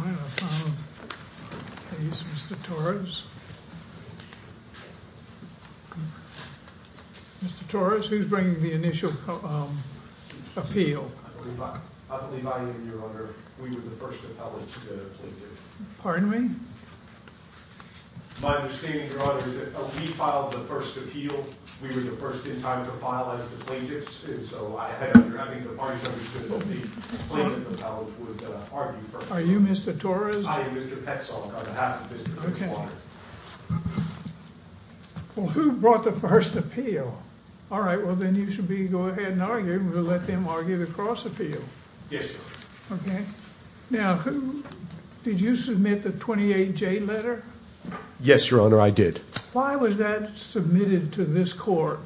I have a final case, Mr. Torres. Mr. Torres, who's bringing the initial appeal? I believe I am, Your Honor. We were the first appellate plaintiff. Pardon me? My understanding, Your Honor, is that we filed the first appeal. We were the first in time to file as the plaintiffs. And so I think the parties understood that the plaintiff appellate would argue first. Are you Mr. Torres? I am Mr. Petzold, on behalf of Mr. Fitzwater. Well, who brought the first appeal? All right, well, then you should go ahead and argue. We'll let them argue the cross-appeal. Yes, Your Honor. Okay. Now, did you submit the 28J letter? Yes, Your Honor, I did. Why was that submitted to this court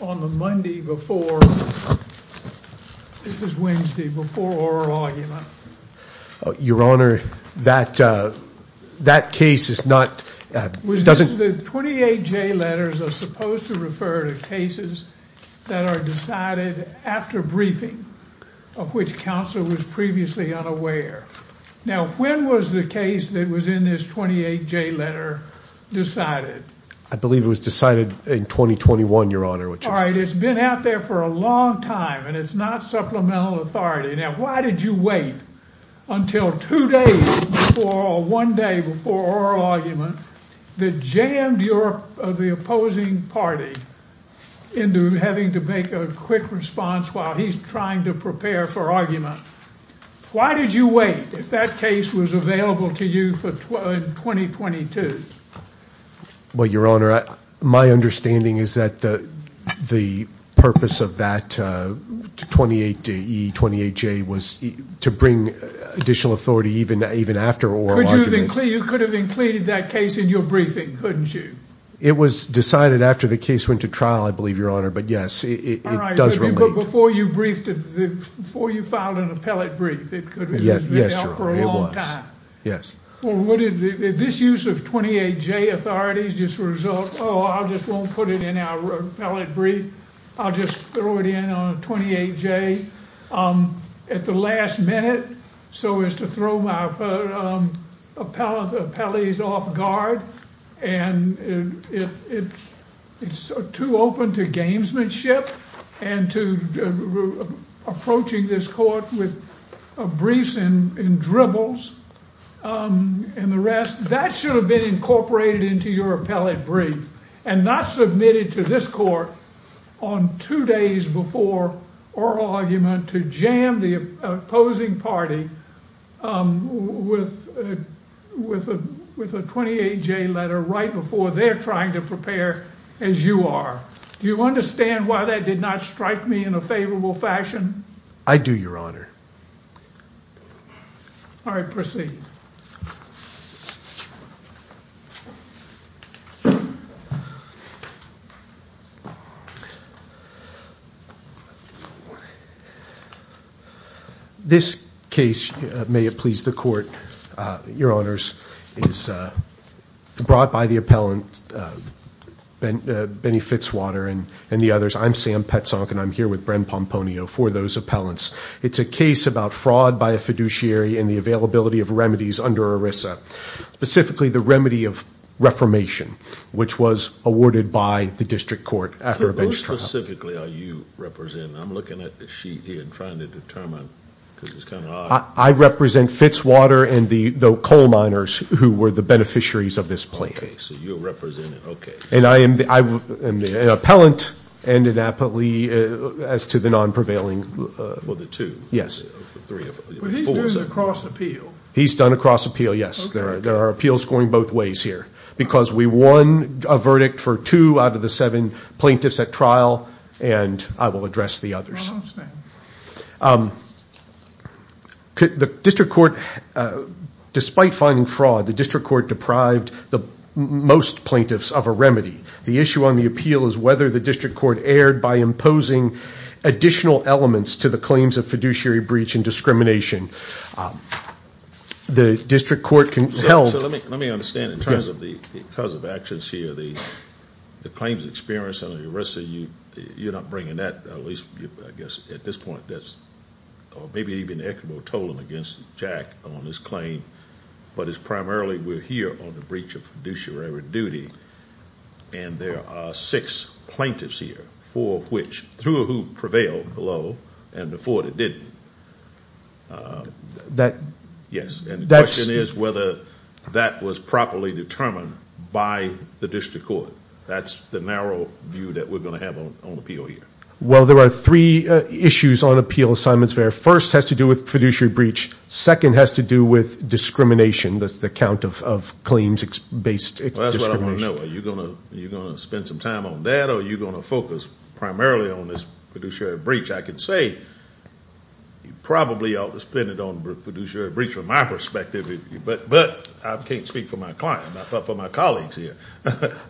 on the Monday before – this is Wednesday – before oral argument? Your Honor, that case is not – doesn't – The 28J letters are supposed to refer to cases that are decided after briefing, of which counsel was previously unaware. Now, when was the case that was in this 28J letter decided? I believe it was decided in 2021, Your Honor. All right, it's been out there for a long time, and it's not supplemental authority. Now, why did you wait until two days before or one day before oral argument that jammed the opposing party into having to make a quick response while he's trying to prepare for argument? Now, why did you wait if that case was available to you in 2022? Well, Your Honor, my understanding is that the purpose of that 28E, 28J was to bring additional authority even after oral argument. You could have included that case in your briefing, couldn't you? It was decided after the case went to trial, I believe, Your Honor, but yes, it does relate. So before you filed an appellate brief, it could have been out for a long time. Yes, Your Honor, it was. Well, would this use of 28J authorities just result – oh, I just won't put it in our appellate brief, I'll just throw it in on a 28J at the last minute so as to throw my appellees off guard? And it's too open to gamesmanship and to approaching this court with briefs and dribbles and the rest. with a 28J letter right before they're trying to prepare as you are. Do you understand why that did not strike me in a favorable fashion? I do, Your Honor. All right, proceed. This case, may it please the court, Your Honors, is brought by the appellant Benny Fitzwater and the others. I'm Sam Petzonck, and I'm here with Bren Pomponio for those appellants. It's a case about fraud by a fiduciary and the availability of remedies under ERISA, specifically the remedy of reformation, which was awarded by the district court after a bench trial. Who specifically are you representing? I'm looking at the sheet here and trying to determine because it's kind of odd. I represent Fitzwater and the coal miners who were the beneficiaries of this plan. Okay, so you're representing – okay. And I am an appellant and an appellee as to the non-prevailing – For the two. Yes. But he's doing a cross appeal. He's done a cross appeal, yes. There are appeals going both ways here because we won a verdict for two out of the seven plaintiffs at trial, and I will address the others. I understand. The district court – despite finding fraud, the district court deprived the most plaintiffs of a remedy. The issue on the appeal is whether the district court erred by imposing additional elements to the claims of fiduciary breach and discrimination. The district court can tell – Let me understand in terms of the cause of actions here. The claims experience and the rest of you, you're not bringing that, at least I guess at this point, or maybe even the equitable tolling against Jack on his claim, but it's primarily we're here on the breach of fiduciary duty, and there are six plaintiffs here, four of which – two of whom prevailed below and the four that didn't. That – Yes. And the question is whether that was properly determined by the district court. That's the narrow view that we're going to have on appeal here. Well, there are three issues on appeal, Simon's Fair. First has to do with fiduciary breach. Second has to do with discrimination, the count of claims based discrimination. Well, that's what I want to know. Are you going to spend some time on that, or are you going to focus primarily on this fiduciary breach? I can say you probably ought to spend it on fiduciary breach from my perspective, but I can't speak for my client, but for my colleagues here.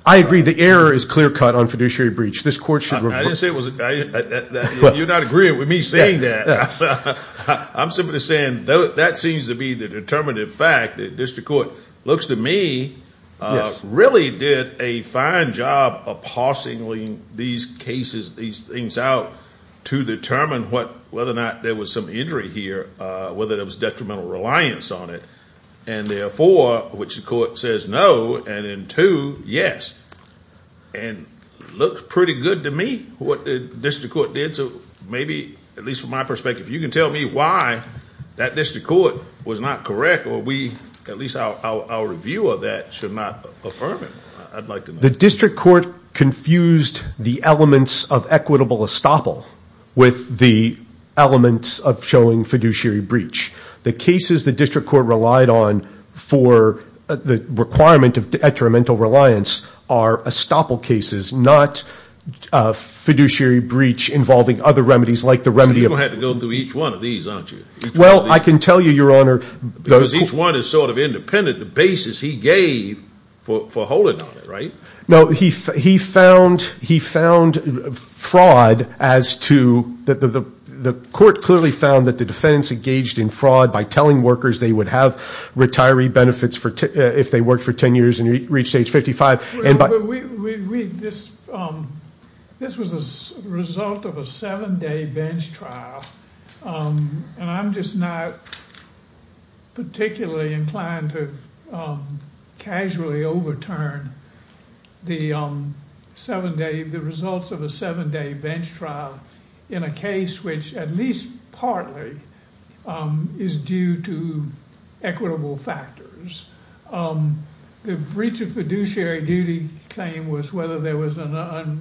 I agree. The error is clear cut on fiduciary breach. This court should – I didn't say it was – you're not agreeing with me saying that. I'm simply saying that seems to be the determinative fact. The district court, it looks to me, really did a fine job of parsing these cases, these things out to determine whether or not there was some injury here, whether there was detrimental reliance on it. And therefore, which the court says no and in two, yes. And it looks pretty good to me what the district court did. So maybe, at least from my perspective, you can tell me why that district court was not correct, or at least our review of that should not affirm it. I'd like to know. The district court confused the elements of equitable estoppel with the elements of showing fiduciary breach. The cases the district court relied on for the requirement of detrimental reliance are estoppel cases, not fiduciary breach involving other remedies like the remedy of – You're going to have to go through each one of these, aren't you? Well, I can tell you, Your Honor – Because each one is sort of independent. The basis he gave for holding on it, right? No, he found fraud as to – the court clearly found that the defense engaged in fraud by telling workers they would have retiree benefits if they worked for 10 years and reached age 55. This was a result of a seven-day bench trial, and I'm just not particularly inclined to casually overturn the results of a seven-day bench trial in a case which, at least partly, is due to equitable factors. The breach of fiduciary duty claim was whether there was an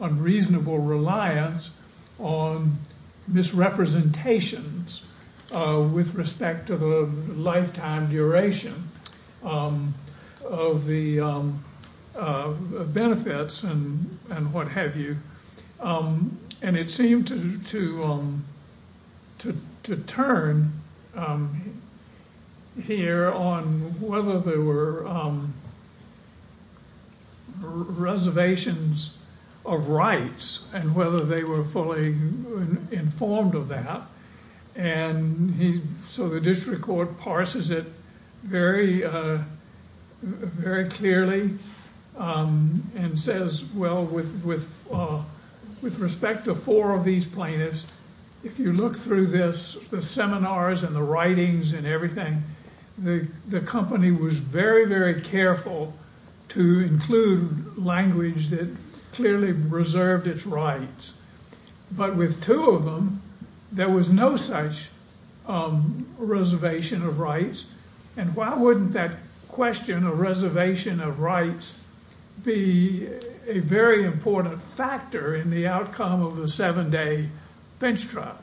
unreasonable reliance on misrepresentations with respect to the lifetime duration of the benefits and what have you, and it seemed to turn here on whether there were reservations of rights and whether they were fully informed of that, so the district court parses it very clearly and says, well, with respect to four of these plaintiffs, if you look through this, the seminars and the writings and everything, the company was very, very careful to include language that clearly reserved its rights, but with two of them, there was no such reservation of rights, and why wouldn't that question of reservation of rights be a very important factor in the outcome of a seven-day bench trial?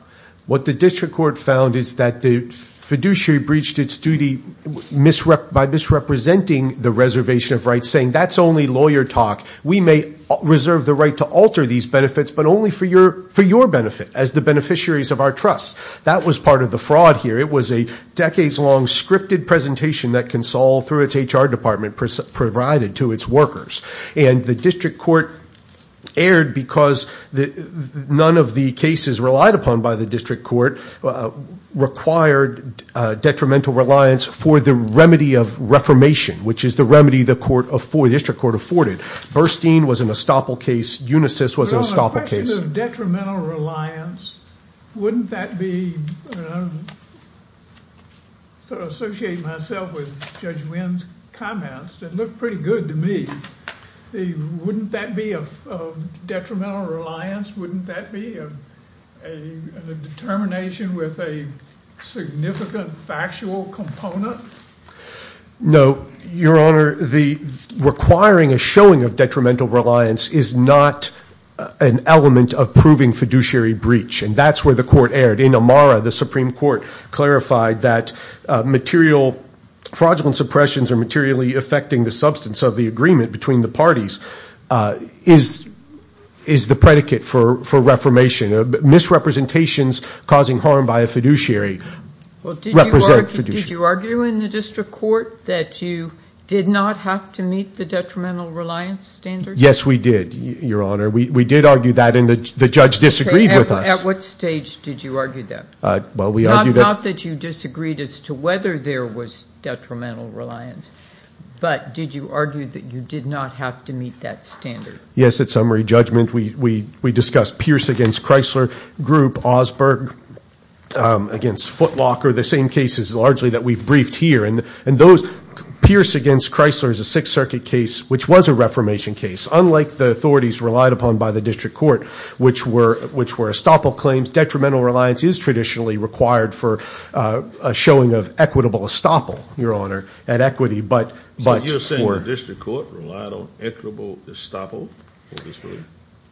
What the district court found is that the fiduciary breached its duty by misrepresenting the reservation of rights, saying that's only lawyer talk. We may reserve the right to alter these benefits, but only for your benefit as the beneficiaries of our trust. That was part of the fraud here. It was a decades-long scripted presentation that can solve through its HR department provided to its workers, and the district court erred because none of the cases relied upon by the district court required detrimental reliance for the remedy of reformation, which is the remedy the district court afforded. Burstein was an estoppel case. Unisys was an estoppel case. The question of detrimental reliance, wouldn't that be, and I associate myself with Judge Wynn's comments that look pretty good to me. Wouldn't that be a detrimental reliance? Wouldn't that be a determination with a significant factual component? No, Your Honor. The requiring a showing of detrimental reliance is not an element of proving fiduciary breach, and that's where the court erred. In Amara, the Supreme Court clarified that material fraudulent suppressions or materially affecting the substance of the agreement between the parties is the predicate for reformation. Misrepresentations causing harm by a fiduciary represent fiduciary. Did you argue in the district court that you did not have to meet the detrimental reliance standard? Yes, we did, Your Honor. We did argue that, and the judge disagreed with us. At what stage did you argue that? Well, we argued that. Not that you disagreed as to whether there was detrimental reliance, but did you argue that you did not have to meet that standard? Yes, at summary judgment, we discussed Pierce against Chrysler Group, Osberg against Footlocker, the same cases largely that we've briefed here. And those Pierce against Chrysler is a Sixth Circuit case, which was a reformation case, unlike the authorities relied upon by the district court, which were estoppel claims. Detrimental reliance is traditionally required for a showing of equitable estoppel, Your Honor, at equity. So you're saying the district court relied on equitable estoppel?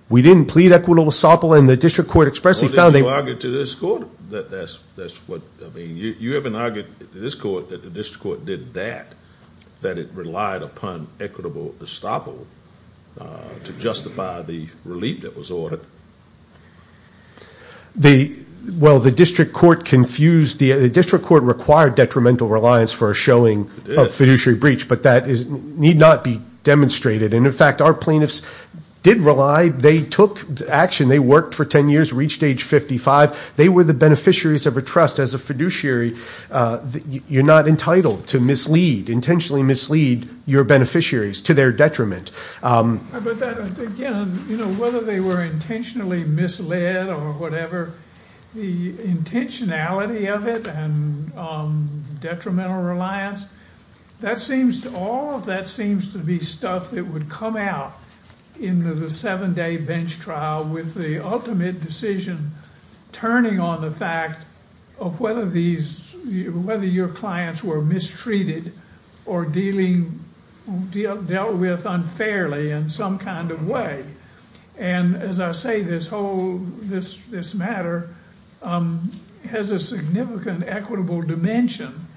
We didn't plead equitable estoppel, and the district court expressly found that. Well, didn't you argue to this court that that's what, I mean, you haven't argued to this court that the district court did that, that it relied upon equitable estoppel to justify the relief that was ordered. Well, the district court confused, the district court required detrimental reliance for a showing of fiduciary breach, but that need not be demonstrated. And, in fact, our plaintiffs did rely. They took action. They worked for 10 years, reached age 55. They were the beneficiaries of a trust as a fiduciary. You're not entitled to mislead, intentionally mislead your beneficiaries to their detriment. But that, again, you know, whether they were intentionally misled or whatever, the intentionality of it and detrimental reliance, that seems to all of that seems to be stuff that would come out in the seven-day bench trial with the ultimate decision turning on the fact of whether these, whether your clients were mistreated or dealing, dealt with unfairly in some kind of way. And, as I say, this whole, this matter has a significant equitable dimension.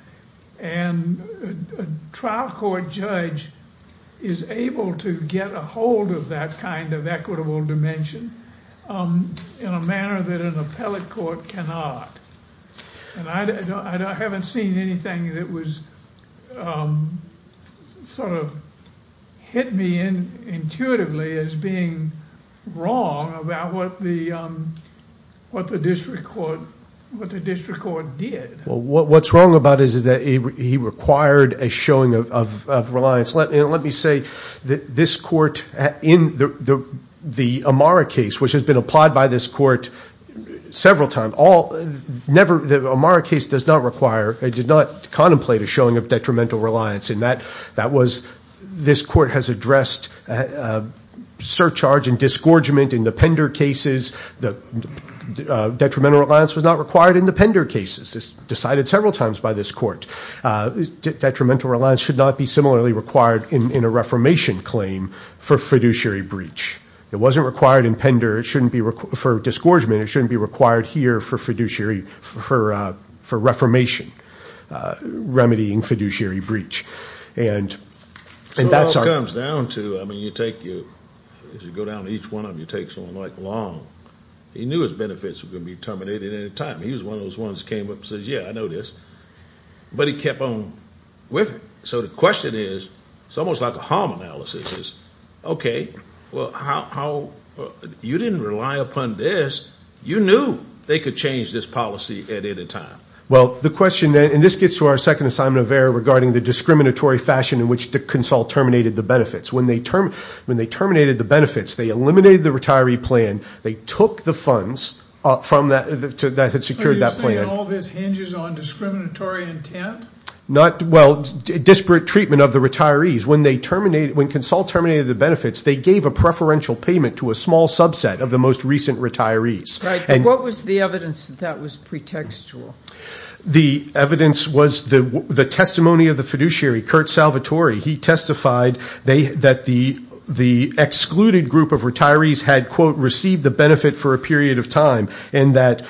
And a trial court judge is able to get a hold of that kind of equitable dimension in a manner that an appellate court cannot. And I haven't seen anything that was sort of hit me intuitively as being wrong about what the district court did. Well, what's wrong about it is that he required a showing of reliance. And let me say that this court in the Amara case, which has been applied by this court several times, all, never, the Amara case does not require, did not contemplate a showing of detrimental reliance in that. That was, this court has addressed surcharge and disgorgement in the Pender cases. Detrimental reliance was not required in the Pender cases. It's decided several times by this court. Detrimental reliance should not be similarly required in a reformation claim for fiduciary breach. It wasn't required in Pender. It shouldn't be, for disgorgement, it shouldn't be required here for fiduciary, for reformation, remedying fiduciary breach. And that's our- So it all comes down to, I mean, you take your, as you go down each one of them, you take someone like Long. He knew his benefits were going to be terminated at any time. He was one of those ones that came up and says, yeah, I know this. But he kept on with it. So the question is, it's almost like a harm analysis is, okay, well, how, you didn't rely upon this. You knew they could change this policy at any time. Well, the question, and this gets to our second assignment of error regarding the discriminatory fashion in which Consul terminated the benefits. When they terminated the benefits, they eliminated the retiree plan. They took the funds that had secured that plan. So you're saying all this hinges on discriminatory intent? Well, disparate treatment of the retirees. When Consul terminated the benefits, they gave a preferential payment to a small subset of the most recent retirees. Right, but what was the evidence that that was pretextual? The evidence was the testimony of the fiduciary, Curt Salvatore. He testified that the excluded group of retirees had, quote, received the benefit for a period of time and that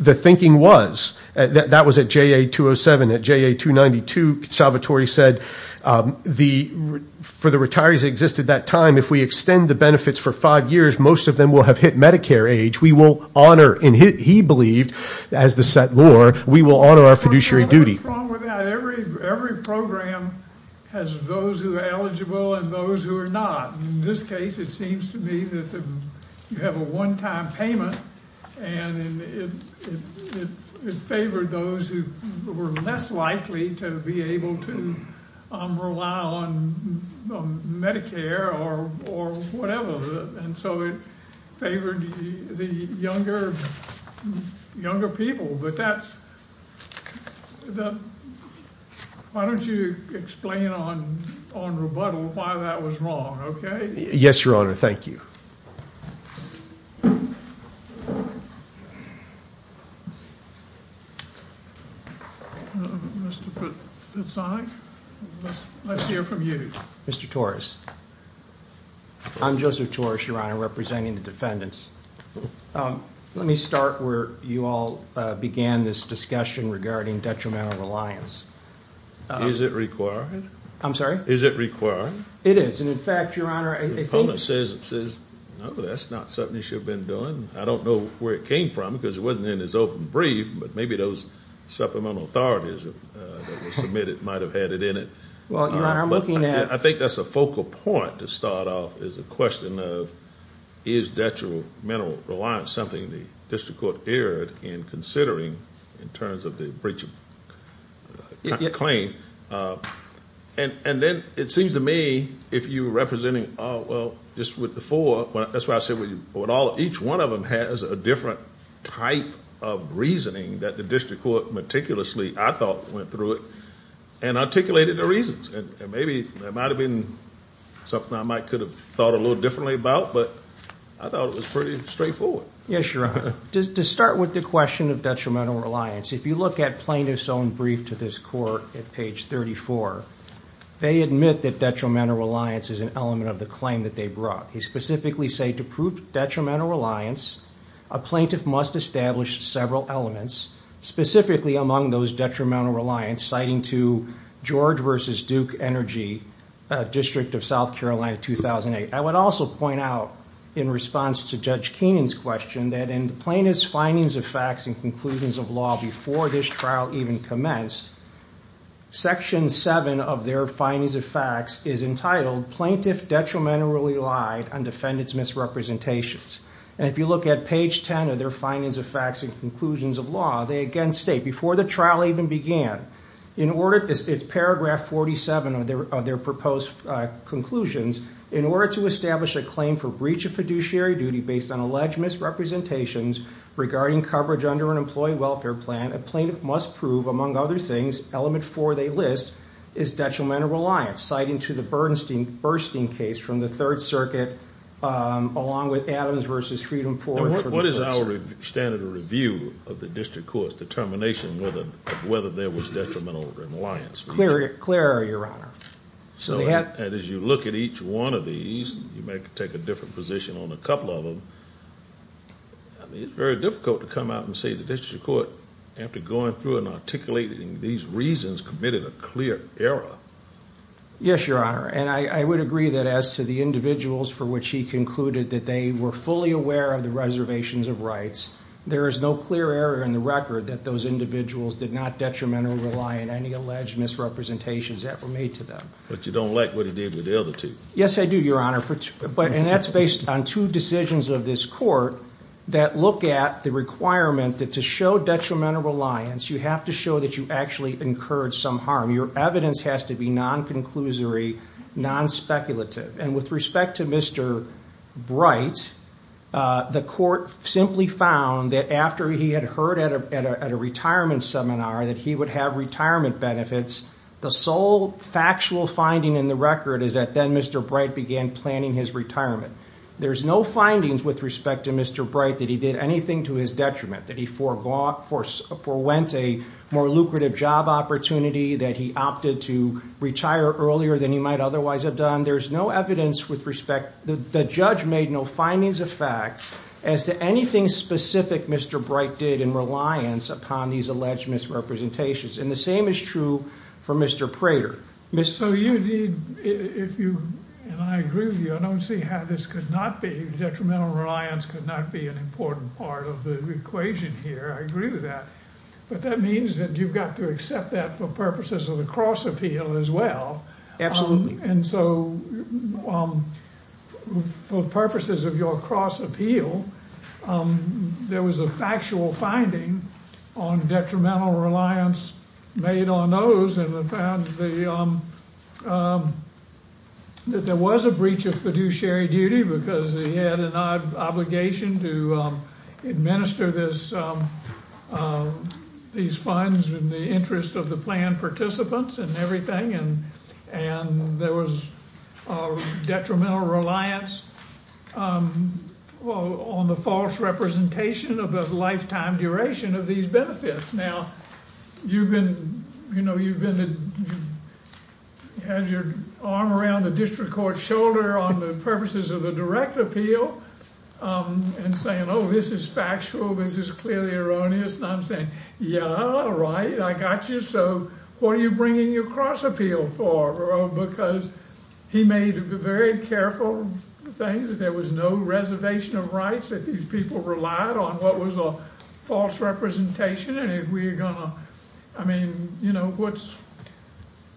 the thinking was, that was at JA 207, at JA 292, Salvatore said, for the retirees that existed at that time, if we extend the benefits for five years, most of them will have hit Medicare age. We will honor, and he believed, as the set law, we will honor our fiduciary duty. Every program has those who are eligible and those who are not. In this case, it seems to me that you have a one-time payment, and it favored those who were less likely to be able to rely on Medicare or whatever, and so it favored the younger people, but that's, why don't you explain on rebuttal why that was wrong, okay? Yes, Your Honor, thank you. Mr. Fitzsonic, let's hear from you. Mr. Torres, I'm Joseph Torres, Your Honor, representing the defendants. Let me start where you all began this discussion regarding detrimental reliance. Is it required? I'm sorry? Is it required? It is, and in fact, Your Honor, I think— The opponent says, no, that's not something you should have been doing. I don't know where it came from because it wasn't in his open brief, but maybe those supplemental authorities that were submitted might have had it in it. Well, Your Honor, I'm looking at— I think that's a focal point to start off as a question of is detrimental reliance something the district court erred in considering in terms of the breach of claim? And then it seems to me if you were representing— Oh, well, just with the four— That's why I said each one of them has a different type of reasoning that the district court meticulously, I thought, went through it and articulated the reasons. And maybe there might have been something I might could have thought a little differently about, but I thought it was pretty straightforward. Yes, Your Honor. To start with the question of detrimental reliance, if you look at plaintiff's own brief to this court at page 34, they admit that detrimental reliance is an element of the claim that they brought. They specifically say, to prove detrimental reliance, a plaintiff must establish several elements, specifically among those detrimental reliance, citing to George v. Duke Energy, District of South Carolina, 2008. I would also point out, in response to Judge Keenan's question, that in plaintiff's findings of facts and conclusions of law before this trial even commenced, section 7 of their findings of facts is entitled, Plaintiff Detrimentally Lied on Defendant's Misrepresentations. And if you look at page 10 of their findings of facts and conclusions of law, they again state, before the trial even began, it's paragraph 47 of their proposed conclusions, in order to establish a claim for breach of fiduciary duty based on alleged misrepresentations regarding coverage under an Employee Welfare Plan, a plaintiff must prove, among other things, element 4 they list is detrimental reliance, citing to the Bernstein case from the Third Circuit, along with Adams v. Freedom IV. What is our standard of review of the District Court's determination of whether there was detrimental reliance? Clear error, Your Honor. And as you look at each one of these, you may take a different position on a couple of them, it's very difficult to come out and say the District Court, after going through and articulating these reasons, committed a clear error. Yes, Your Honor, and I would agree that as to the individuals for which he concluded that they were fully aware of the reservations of rights, there is no clear error in the record that those individuals did not detrimentally rely on any alleged misrepresentations that were made to them. But you don't like what he did with the other two. Yes, I do, Your Honor, and that's based on two decisions of this Court that look at the requirement that to show detrimental reliance, you have to show that you actually incurred some harm. Your evidence has to be non-conclusory, non-speculative. And with respect to Mr. Bright, the Court simply found that after he had heard at a retirement seminar that he would have retirement benefits, the sole factual finding in the record is that then Mr. Bright began planning his retirement. There's no findings with respect to Mr. Bright that he did anything to his detriment, that he forewent a more lucrative job opportunity, that he opted to retire earlier than he might otherwise have done. There's no evidence with respect – the judge made no findings of fact as to anything specific Mr. Bright did in reliance upon these alleged misrepresentations. And the same is true for Mr. Prater. So you need – and I agree with you, I don't see how this could not be – detrimental reliance could not be an important part of the equation here. I agree with that. But that means that you've got to accept that for purposes of the cross appeal as well. Absolutely. And so for purposes of your cross appeal, there was a factual finding on detrimental reliance made on those, and that there was a breach of fiduciary duty because he had an obligation to administer these funds in the interest of the planned participants and everything, and there was detrimental reliance on the false representation of a lifetime duration of these benefits. Now, you've been – you know, you've been – you've had your arm around the district court's shoulder on the purposes of the direct appeal and saying, oh, this is factual, this is clearly erroneous, and I'm saying, yeah, right, I got you. So what are you bringing your cross appeal for? Because he made a very careful thing that there was no reservation of rights, that these people relied on what was a false representation, and if we're going to – I mean, you know,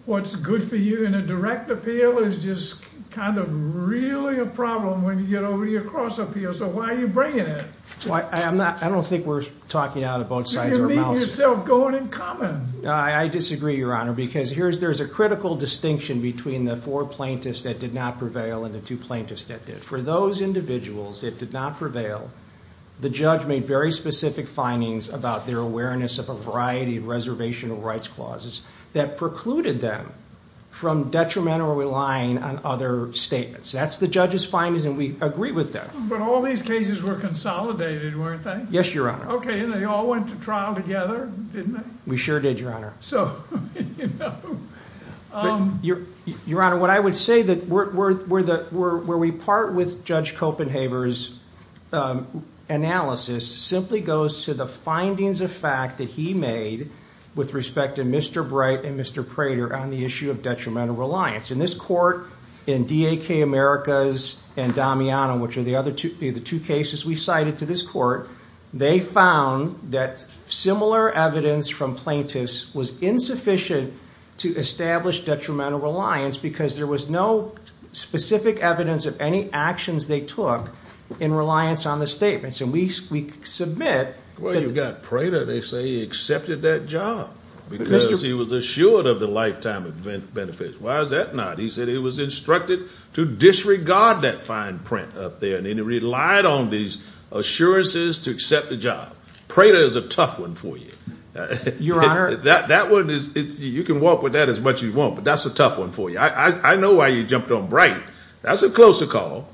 what's good for you in a direct appeal is just kind of really a problem when you get over to your cross appeal. So why are you bringing it? I'm not – I don't think we're talking out of both sides of our mouths. I disagree, Your Honor, because here's – there's a critical distinction between the four plaintiffs that did not prevail and the two plaintiffs that did. For those individuals that did not prevail, the judge made very specific findings about their awareness of a variety of reservational rights clauses that precluded them from detrimental relying on other statements. That's the judge's findings, and we agree with that. But all these cases were consolidated, weren't they? Yes, Your Honor. Okay, and they all went to trial together, didn't they? We sure did, Your Honor. So, you know. Your Honor, what I would say that we're – where we part with Judge Copenhaver's analysis simply goes to the findings of fact that he made with respect to Mr. Bright and Mr. Prater on the issue of detrimental reliance. In this court, in D.A.K. Americas and Damiano, which are the other two cases we cited to this court, they found that similar evidence from plaintiffs was insufficient to establish detrimental reliance because there was no specific evidence of any actions they took in reliance on the statements. And we submit – Well, you've got Prater. They say he accepted that job because he was assured of the lifetime benefits. Why is that not? He said he was instructed to disregard that fine print up there, and he relied on these assurances to accept the job. Prater is a tough one for you. Your Honor. That one is – you can walk with that as much as you want, but that's a tough one for you. I know why you jumped on Bright. That's a closer call.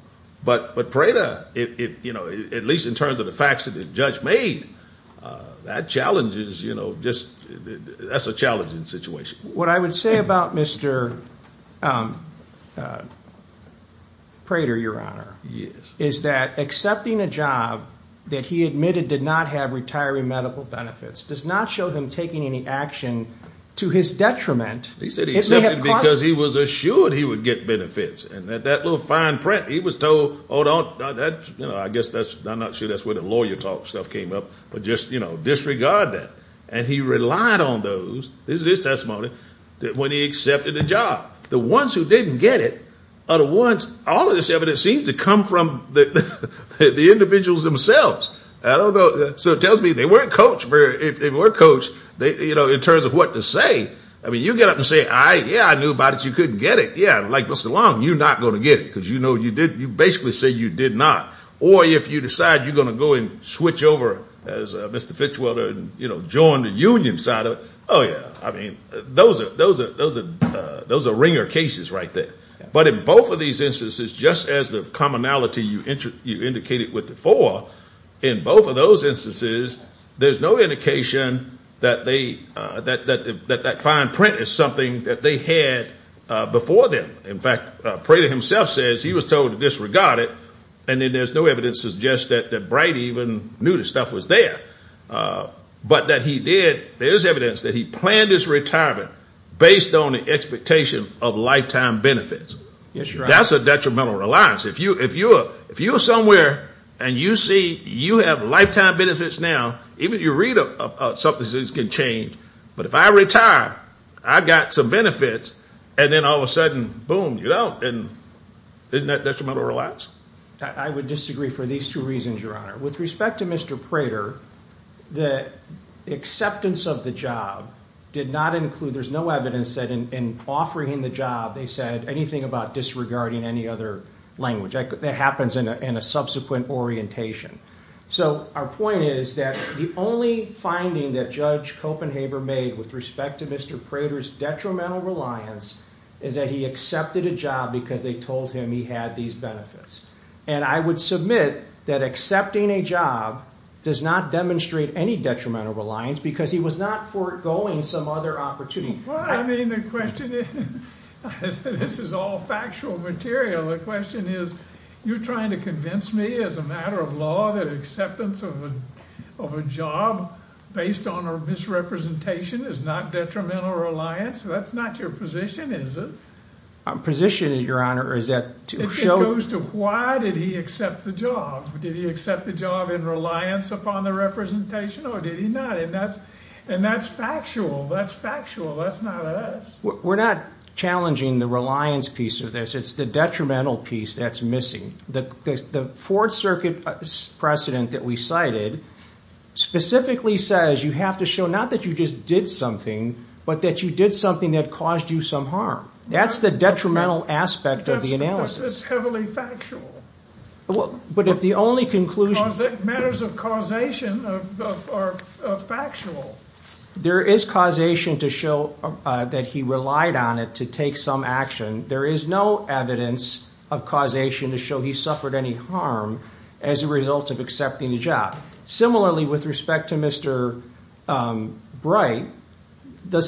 But Prater, you know, at least in terms of the facts that the judge made, that challenges, you know, just – that's a challenging situation. What I would say about Mr. Prater, Your Honor, is that accepting a job that he admitted did not have retiring medical benefits does not show him taking any action to his detriment. He said he accepted because he was assured he would get benefits, and that little fine print, he was told, oh, don't – I guess that's – I'm not sure that's where the lawyer talk stuff came up, but just, you know, disregard that. And he relied on those – this is his testimony – when he accepted the job. The ones who didn't get it are the ones – all of this evidence seems to come from the individuals themselves. I don't know – so it tells me they weren't coached. If they were coached, you know, in terms of what to say, I mean, you get up and say, all right, yeah, I knew about it. You couldn't get it. Yeah, like Mr. Long, you're not going to get it because you know you did – you basically say you did not. Or if you decide you're going to go and switch over as Mr. Fitchwelder and, you know, join the union side of it, oh, yeah. I mean, those are ringer cases right there. But in both of these instances, just as the commonality you indicated with the four, in both of those instances, there's no indication that they – that that fine print is something that they had before them. In fact, Prater himself says he was told to disregard it. And then there's no evidence to suggest that Bright even knew this stuff was there. But that he did – there's evidence that he planned his retirement based on the expectation of lifetime benefits. That's a detrimental reliance. If you're somewhere and you see you have lifetime benefits now, even if you read something that's going to change, but if I retire, I've got some benefits, and then all of a sudden, boom, you don't. And isn't that detrimental reliance? I would disagree for these two reasons, Your Honor. With respect to Mr. Prater, the acceptance of the job did not include – there's no evidence that in offering him the job, they said anything about disregarding any other language. That happens in a subsequent orientation. So our point is that the only finding that Judge Copenhaver made with respect to Mr. Prater's detrimental reliance is that he accepted a job because they told him he had these benefits. And I would submit that accepting a job does not demonstrate any detrimental reliance because he was not foregoing some other opportunity. Well, I mean, the question – this is all factual material. The question is, you're trying to convince me as a matter of law that acceptance of a job based on a misrepresentation is not detrimental reliance? That's not your position, is it? My position, Your Honor, is that to show – It goes to why did he accept the job. Did he accept the job in reliance upon the representation or did he not? And that's factual. That's factual. That's not us. We're not challenging the reliance piece of this. It's the detrimental piece that's missing. The Fourth Circuit precedent that we cited specifically says you have to show not that you just did something but that you did something that caused you some harm. That's the detrimental aspect of the analysis. That's heavily factual. But if the only conclusion – Matters of causation are factual. There is causation to show that he relied on it to take some action. There is no evidence of causation to show he suffered any harm as a result of accepting the job. Similarly, with respect to Mr. Bright, the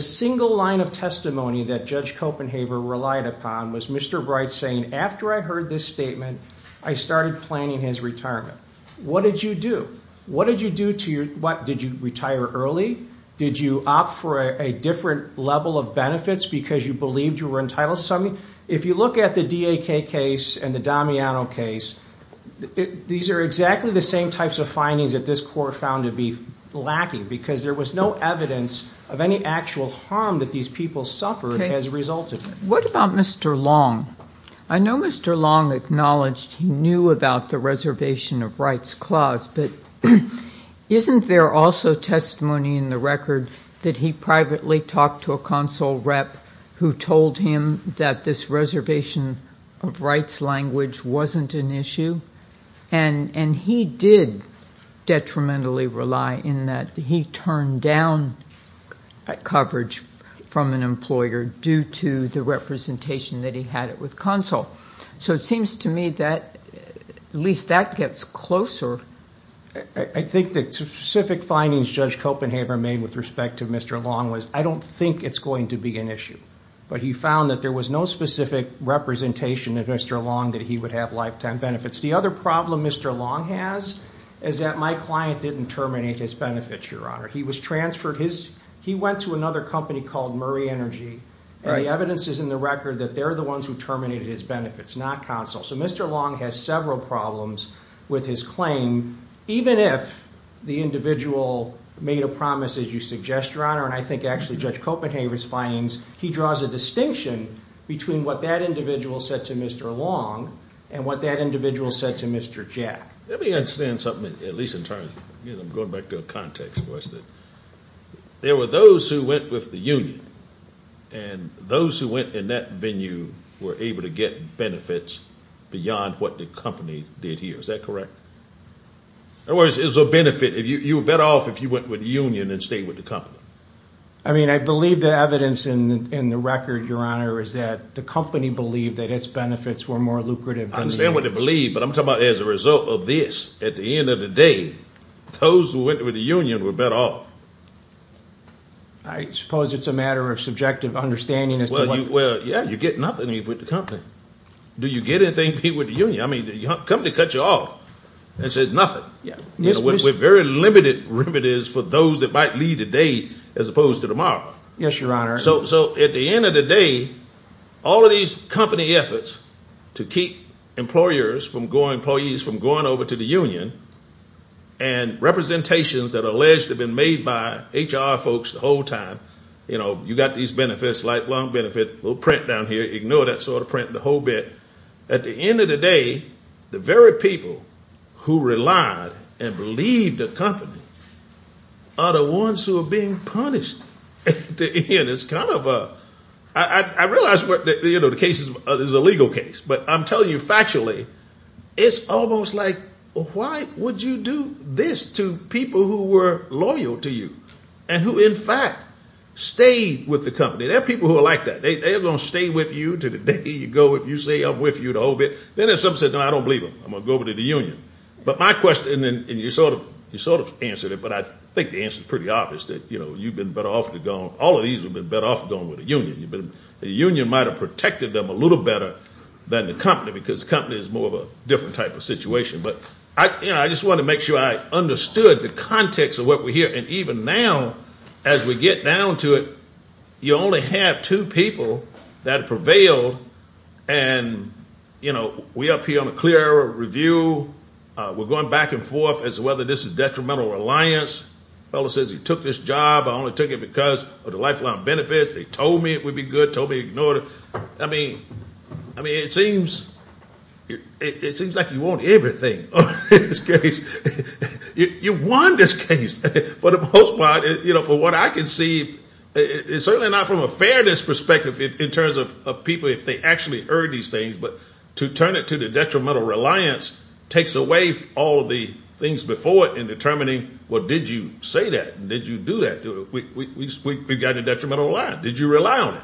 single line of testimony that Judge Copenhaver relied upon was Mr. Bright saying, After I heard this statement, I started planning his retirement. What did you do? What did you do to your – What, did you retire early? Did you opt for a different level of benefits because you believed you were entitled to something? If you look at the DAK case and the Damiano case, these are exactly the same types of findings that this Court found to be lacking because there was no evidence of any actual harm that these people suffered as a result of it. What about Mr. Long? I know Mr. Long acknowledged he knew about the Reservation of Rights Clause, but isn't there also testimony in the record that he privately talked to a consul rep who told him that this reservation of rights language wasn't an issue? And he did detrimentally rely in that he turned down coverage from an employer due to the representation that he had with consul. So it seems to me that at least that gets closer. I think the specific findings Judge Copenhaver made with respect to Mr. Long was, I don't think it's going to be an issue. But he found that there was no specific representation of Mr. Long that he would have lifetime benefits. The other problem Mr. Long has is that my client didn't terminate his benefits, Your Honor. He went to another company called Murray Energy, and the evidence is in the record that they're the ones who terminated his benefits, not consul. So Mr. Long has several problems with his claim, even if the individual made a promise as you suggest, Your Honor. And I think actually Judge Copenhaver's findings, he draws a distinction between what that individual said to Mr. Long and what that individual said to Mr. Jack. Let me understand something, at least in terms of going back to a context. There were those who went with the union, and those who went in that venue were able to get benefits beyond what the company did here. Is that correct? In other words, it was a benefit. You were better off if you went with the union and stayed with the company. I mean, I believe the evidence in the record, Your Honor, is that the company believed that its benefits were more lucrative than the union's. I understand what they believed, but I'm talking about as a result of this, at the end of the day, those who went with the union were better off. I suppose it's a matter of subjective understanding as to what – Well, yeah, you get nothing even with the company. Do you get anything, Pete, with the union? I mean, the company cuts you off and says nothing. There's very limited remedies for those that might leave today as opposed to tomorrow. Yes, Your Honor. So at the end of the day, all of these company efforts to keep employees from going over to the union and representations that are alleged to have been made by HR folks the whole time, you know, you've got these benefits, lifelong benefit, little print down here, ignore that sort of print, the whole bit. At the end of the day, the very people who relied and believed the company are the ones who are being punished at the end. It's kind of a – I realize the case is a legal case, but I'm telling you factually, it's almost like why would you do this to people who were loyal to you and who in fact stayed with the company? There are people who are like that. They're going to stay with you to the day you go. If you say I'm with you the whole bit, then in some sense, I don't believe them. I'm going to go over to the union. But my question – and you sort of answered it, but I think the answer is pretty obvious that, you know, you've been better off to go. All of these have been better off going with the union. The union might have protected them a little better than the company because the company is more of a different type of situation. But I just want to make sure I understood the context of what we hear. And even now, as we get down to it, you only have two people that prevailed. And, you know, we up here on a clear review. We're going back and forth as to whether this is detrimental or reliance. The fellow says he took this job. I only took it because of the lifelong benefits. He told me it would be good, told me ignore it. I mean, it seems like you want everything in this case. You want this case. But for the most part, you know, from what I can see, it's certainly not from a fairness perspective in terms of people if they actually heard these things. But to turn it to the detrimental reliance takes away all of the things before it in determining, well, did you say that? Did you do that? We've got a detrimental reliance. Did you rely on it?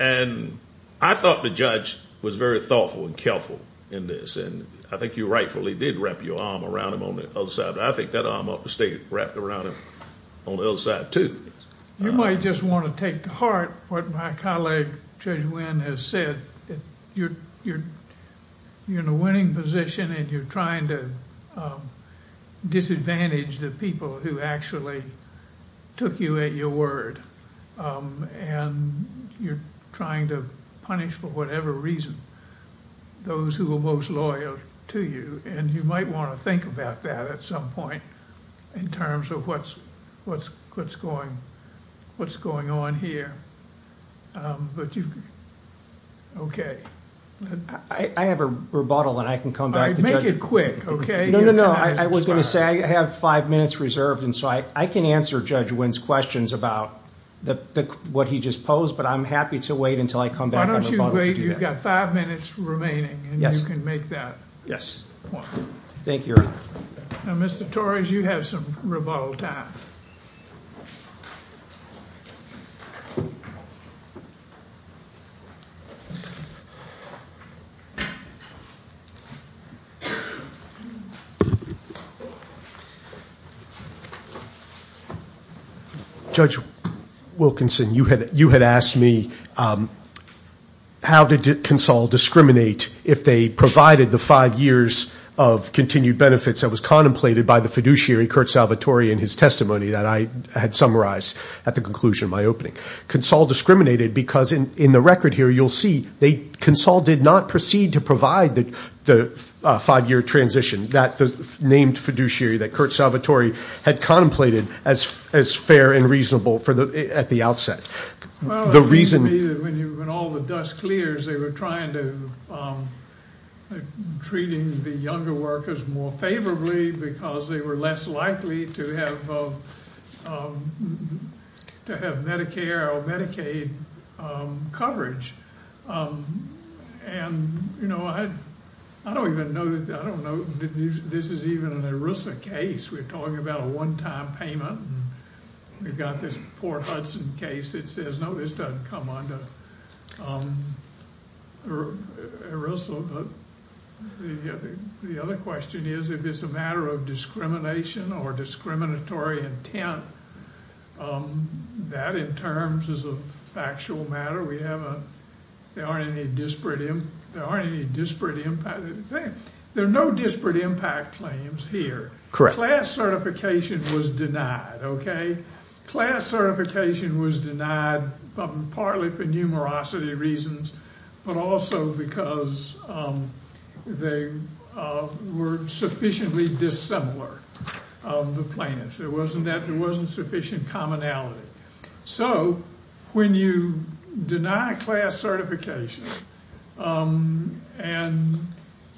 And I thought the judge was very thoughtful and careful in this. And I think you rightfully did wrap your arm around him on the other side. I think that arm ought to stay wrapped around him on the other side, too. You might just want to take to heart what my colleague Judge Wynn has said. You're in a winning position, and you're trying to disadvantage the people who actually took you at your word. And you're trying to punish, for whatever reason, those who were most loyal to you. And you might want to think about that at some point in terms of what's going on here. Okay. I have a rebuttal, and I can come back to Judge Wynn. Make it quick, okay? No, no, no. I was going to say I have five minutes reserved, and so I can answer Judge Wynn's questions about what he just posed, but I'm happy to wait until I come back and rebuttal to do that. Why don't you wait? You've got five minutes remaining, and you can make that point. Thank you, Your Honor. Now, Mr. Torres, you have some rebuttal time. Judge Wilkinson, you had asked me how did CONSOL discriminate if they provided the five years of continued benefits that was contemplated by the fiduciary, Kurt Salvatore, in his testimony that I had summarized at the conclusion of my opening. CONSOL discriminated because, in the record here, you'll see CONSOL did not proceed to provide the five-year transition. That named fiduciary that Kurt Salvatore had contemplated as fair and reasonable at the outset. Well, it seems to me that when all the dust clears, they were trying to treat the younger workers more favorably because they were less likely to have Medicare or Medicaid coverage. And, you know, I don't even know that this is even an ERISA case. We're talking about a one-time payment, and we've got this poor Hudson case that says, no, this doesn't come under ERISA. But the other question is, if it's a matter of discrimination or discriminatory intent, that in terms is a factual matter. There aren't any disparate impact claims. There are no disparate impact claims here. Class certification was denied, okay? Class certification was denied partly for numerosity reasons, but also because they were sufficiently dissimilar of the plans. There wasn't sufficient commonality. So when you deny class certification and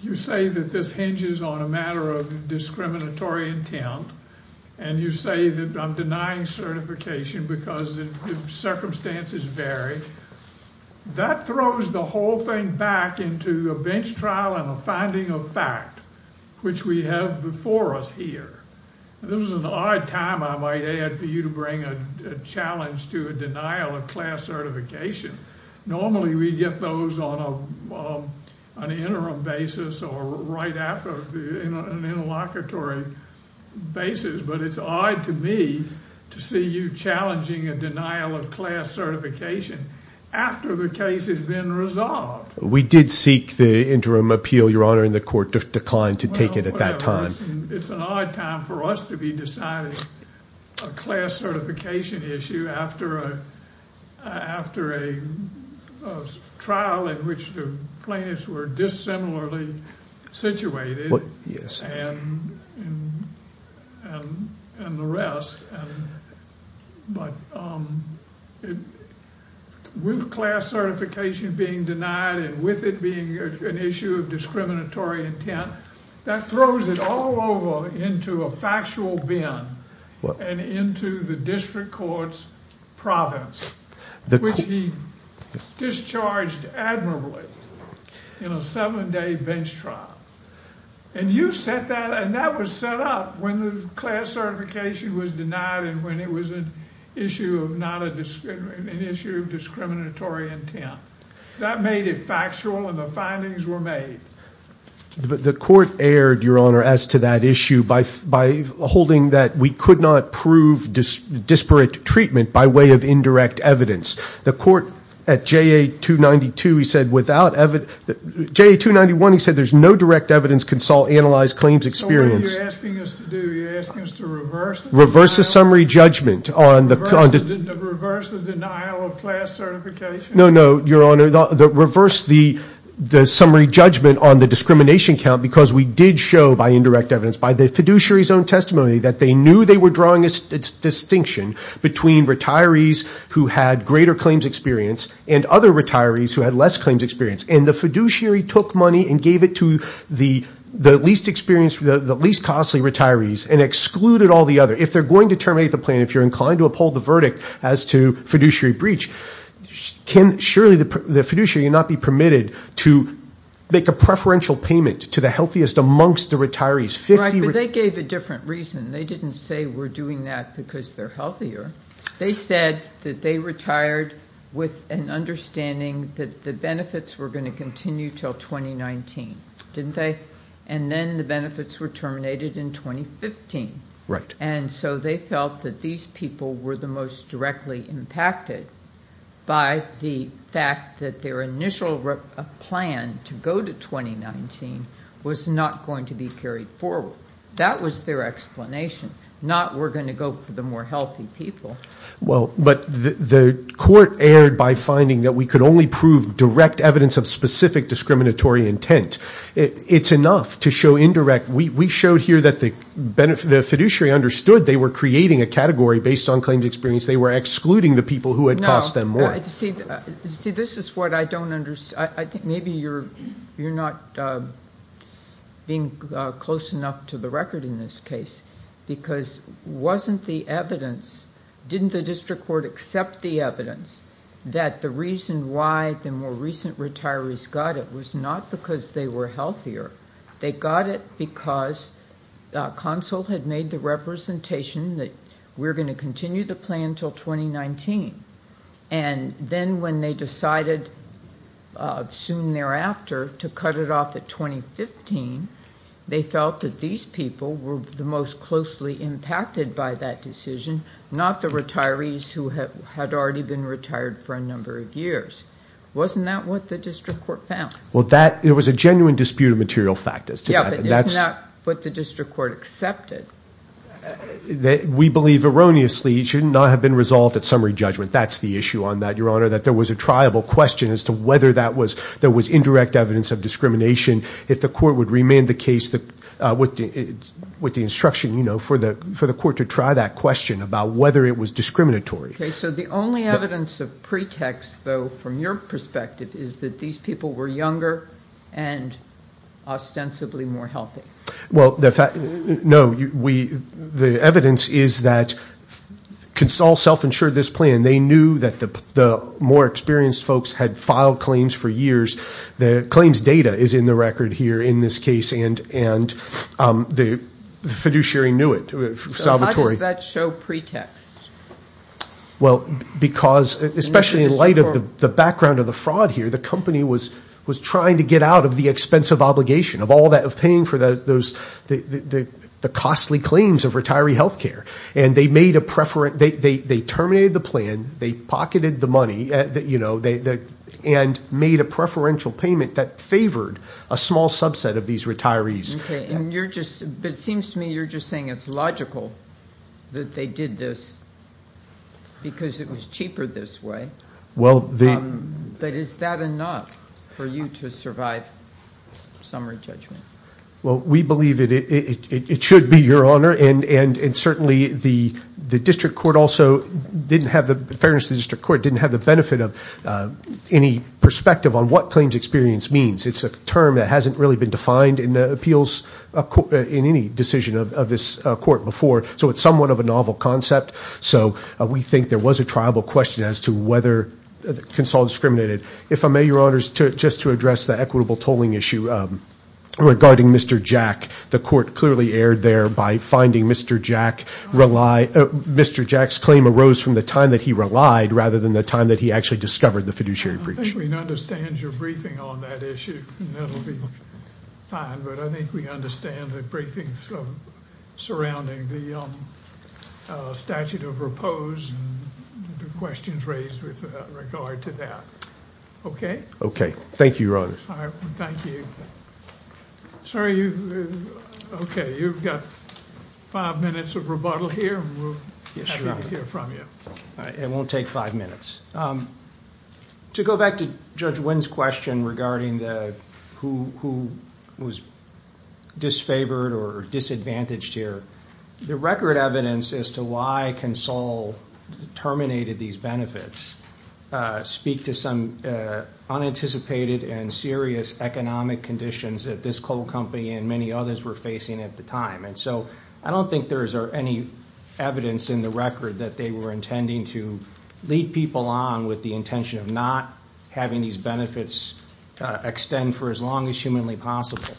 you say that this hinges on a matter of discriminatory intent and you say that I'm denying certification because the circumstances vary, that throws the whole thing back into a bench trial and a finding of fact, which we have before us here. This is an odd time, I might add, for you to bring a challenge to a denial of class certification. Normally we get those on an interim basis or right after an interlocutory basis, but it's odd to me to see you challenging a denial of class certification after the case has been resolved. We did seek the interim appeal, Your Honor, and the court declined to take it at that time. It's an odd time for us to be deciding a class certification issue after a trial in which the plaintiffs were dissimilarly situated and the rest. With class certification being denied and with it being an issue of discriminatory intent, that throws it all over into a factual bin and into the district court's province, which he discharged admirably in a seven-day bench trial. And that was set up when the class certification was denied and when it was an issue of discriminatory intent. That made it factual and the findings were made. The court erred, Your Honor, as to that issue by holding that we could not prove disparate treatment by way of indirect evidence. The court at JA 292, he said, without evidence, JA 291, he said, there's no direct evidence consult, analyze, claims experience. So what are you asking us to do? You're asking us to reverse the summary judgment on the class certification? No, no, Your Honor. Reverse the summary judgment on the discrimination count because we did show by indirect evidence, by the fiduciary's own testimony, that they knew they were drawing a distinction between retirees who had greater claims experience and other retirees who had less claims experience. And the fiduciary took money and gave it to the least experienced, the least costly retirees and excluded all the other. If they're going to terminate the plan, if you're inclined to uphold the verdict as to fiduciary breach, can surely the fiduciary not be permitted to make a preferential payment to the healthiest amongst the retirees? Right, but they gave a different reason. They didn't say we're doing that because they're healthier. They said that they retired with an understanding that the benefits were going to continue until 2019, didn't they? And then the benefits were terminated in 2015. Right. And so they felt that these people were the most directly impacted by the fact that their initial plan to go to 2019 was not going to be carried forward. That was their explanation, not we're going to go for the more healthy people. Well, but the court erred by finding that we could only prove direct evidence of specific discriminatory intent. It's enough to show indirect. We showed here that the fiduciary understood they were creating a category based on claims experience. They were excluding the people who had cost them more. See, this is what I don't understand. I think maybe you're not being close enough to the record in this case because wasn't the evidence, didn't the district court accept the evidence that the reason why the more recent retirees got it was not because they were healthier. They got it because the consul had made the representation that we're going to continue the plan until 2019. And then when they decided soon thereafter to cut it off at 2015, they felt that these people were the most closely impacted by that decision, not the retirees who had already been retired for a number of years. Wasn't that what the district court found? Well, there was a genuine dispute of material factors to that. Yeah, but it's not what the district court accepted. We believe erroneously it should not have been resolved at summary judgment. That's the issue on that, Your Honor, that there was a triable question as to whether there was indirect evidence of discrimination. If the court would remand the case with the instruction, you know, for the court to try that question about whether it was discriminatory. Okay, so the only evidence of pretext, though, from your perspective, is that these people were younger and ostensibly more healthy. Well, no, the evidence is that consul self-insured this plan. They knew that the more experienced folks had filed claims for years. The claims data is in the record here in this case, and the fiduciary knew it, Salvatore. So how does that show pretext? Well, because especially in light of the background of the fraud here, the company was trying to get out of the expensive obligation of all that, of paying for the costly claims of retiree health care, and they made a preference. They terminated the plan. They pocketed the money and made a preferential payment that favored a small subset of these retirees. Okay, but it seems to me you're just saying it's logical that they did this because it was cheaper this way. But is that enough for you to survive summary judgment? Well, we believe it should be, Your Honor, and certainly the district court also didn't have the benefit of any perspective on what claims experience means. It's a term that hasn't really been defined in any decision of this court before, so it's somewhat of a novel concept. So we think there was a triable question as to whether it can solve discriminated. If I may, Your Honor, just to address the equitable tolling issue regarding Mr. Jack, the court clearly erred there by finding Mr. Jack's claim arose from the time that he relied rather than the time that he actually discovered the fiduciary breach. I think we understand your briefing on that issue, and that will be fine, but I think we understand the briefings surrounding the statute of repose and the questions raised with regard to that. Okay? Thank you, Your Honor. Thank you. Sir, you've got five minutes of rebuttal here, and we'll hear from you. It won't take five minutes. To go back to Judge Wynn's question regarding who was disfavored or disadvantaged here, the record evidence as to why Consol terminated these benefits speak to some unanticipated and serious economic conditions that this coal company and many others were facing at the time. And so I don't think there's any evidence in the record that they were intending to lead people on with the intention of not having these benefits extend for as long as humanly possible.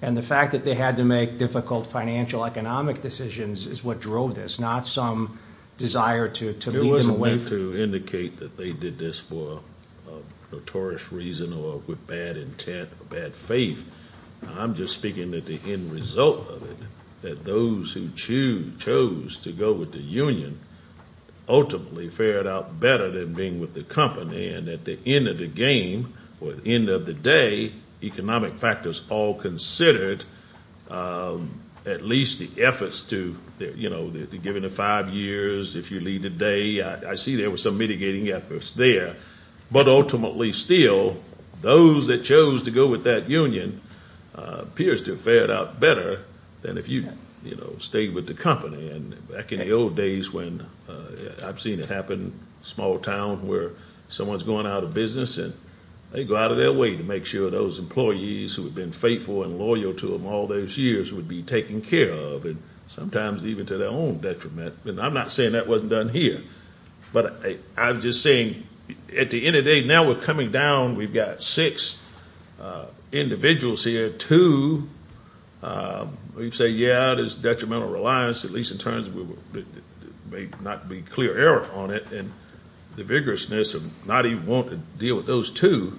And the fact that they had to make difficult financial economic decisions is what drove this, not some desire to lead them away. It wasn't meant to indicate that they did this for a notorious reason or with bad intent or bad faith. I'm just speaking at the end result of it, that those who chose to go with the union ultimately fared out better than being with the company, and at the end of the game or the end of the day, economic factors all considered at least the efforts to, you know, given the five years, if you lead a day, I see there was some mitigating efforts there. But ultimately still, those that chose to go with that union appears to have fared out better than if you, you know, stayed with the company. And back in the old days when I've seen it happen, small town where someone's going out of business and they go out of their way to make sure those employees who had been faithful and loyal to them all those years would be taken care of, and sometimes even to their own detriment. And I'm not saying that wasn't done here. But I'm just saying at the end of the day, now we're coming down, we've got six individuals here, two, we say, yeah, there's detrimental reliance, at least in terms of there may not be clear error on it, and the vigorousness of not even wanting to deal with those two,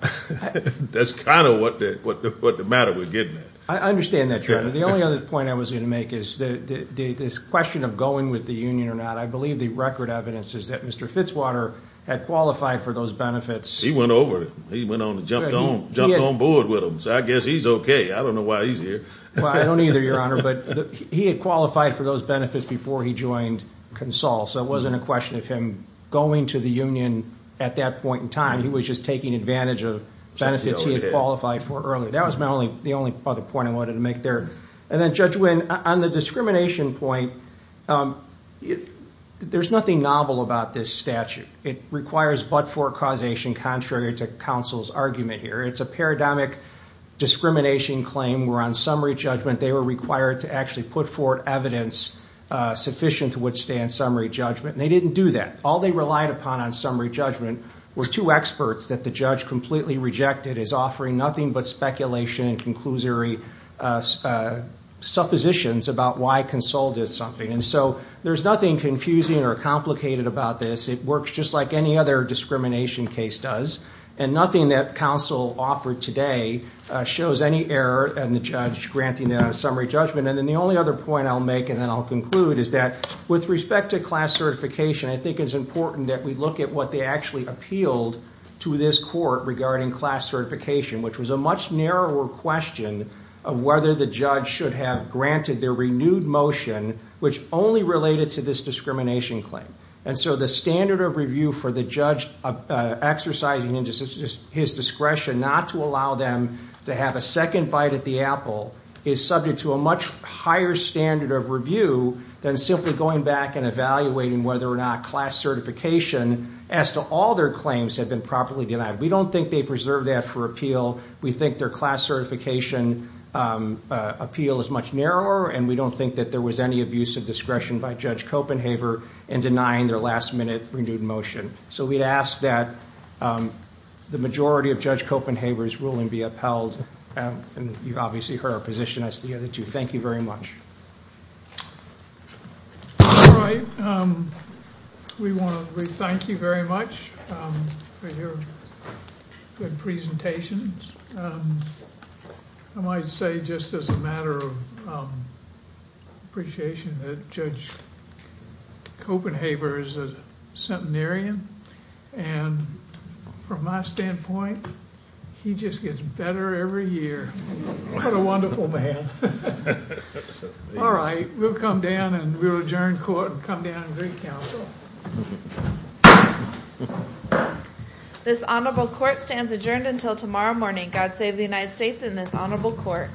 that's kind of what the matter we're getting at. I understand that, Chairman. The only other point I was going to make is this question of going with the union or not, I believe the record evidence is that Mr. Fitzwater had qualified for those benefits. He went over. He went on and jumped on board with them. So I guess he's okay. I don't know why he's here. Well, I don't either, Your Honor. But he had qualified for those benefits before he joined Consul, so it wasn't a question of him going to the union at that point in time. He was just taking advantage of benefits he had qualified for earlier. That was the only other point I wanted to make there. And then, Judge Winn, on the discrimination point, there's nothing novel about this statute. It requires but-for causation contrary to counsel's argument here. It's a paradigmic discrimination claim where on summary judgment they were required to actually put forward evidence sufficient to withstand summary judgment, and they didn't do that. All they relied upon on summary judgment were two experts that the judge completely rejected It is offering nothing but speculation and conclusory suppositions about why Consul did something. And so there's nothing confusing or complicated about this. It works just like any other discrimination case does, and nothing that counsel offered today shows any error in the judge granting them a summary judgment. And then the only other point I'll make, and then I'll conclude, is that with respect to class certification, I think it's important that we look at what they actually appealed to this court regarding class certification, which was a much narrower question of whether the judge should have granted their renewed motion, which only related to this discrimination claim. And so the standard of review for the judge exercising his discretion not to allow them to have a second bite at the apple is subject to a much higher standard of review than simply going back and evaluating whether or not class certification, as to all their claims, had been properly denied. We don't think they preserved that for appeal. We think their class certification appeal is much narrower, and we don't think that there was any abuse of discretion by Judge Copenhaver in denying their last minute renewed motion. So we'd ask that the majority of Judge Copenhaver's ruling be upheld, and you obviously heard our position as the other two. Thank you very much. All right. We want to thank you very much for your good presentations. I might say just as a matter of appreciation that Judge Copenhaver is a centenarian, and from my standpoint, he just gets better every year. What a wonderful man. All right, we'll come down and we'll adjourn court and come down and recount. This honorable court stands adjourned until tomorrow morning. God save the United States and this honorable court.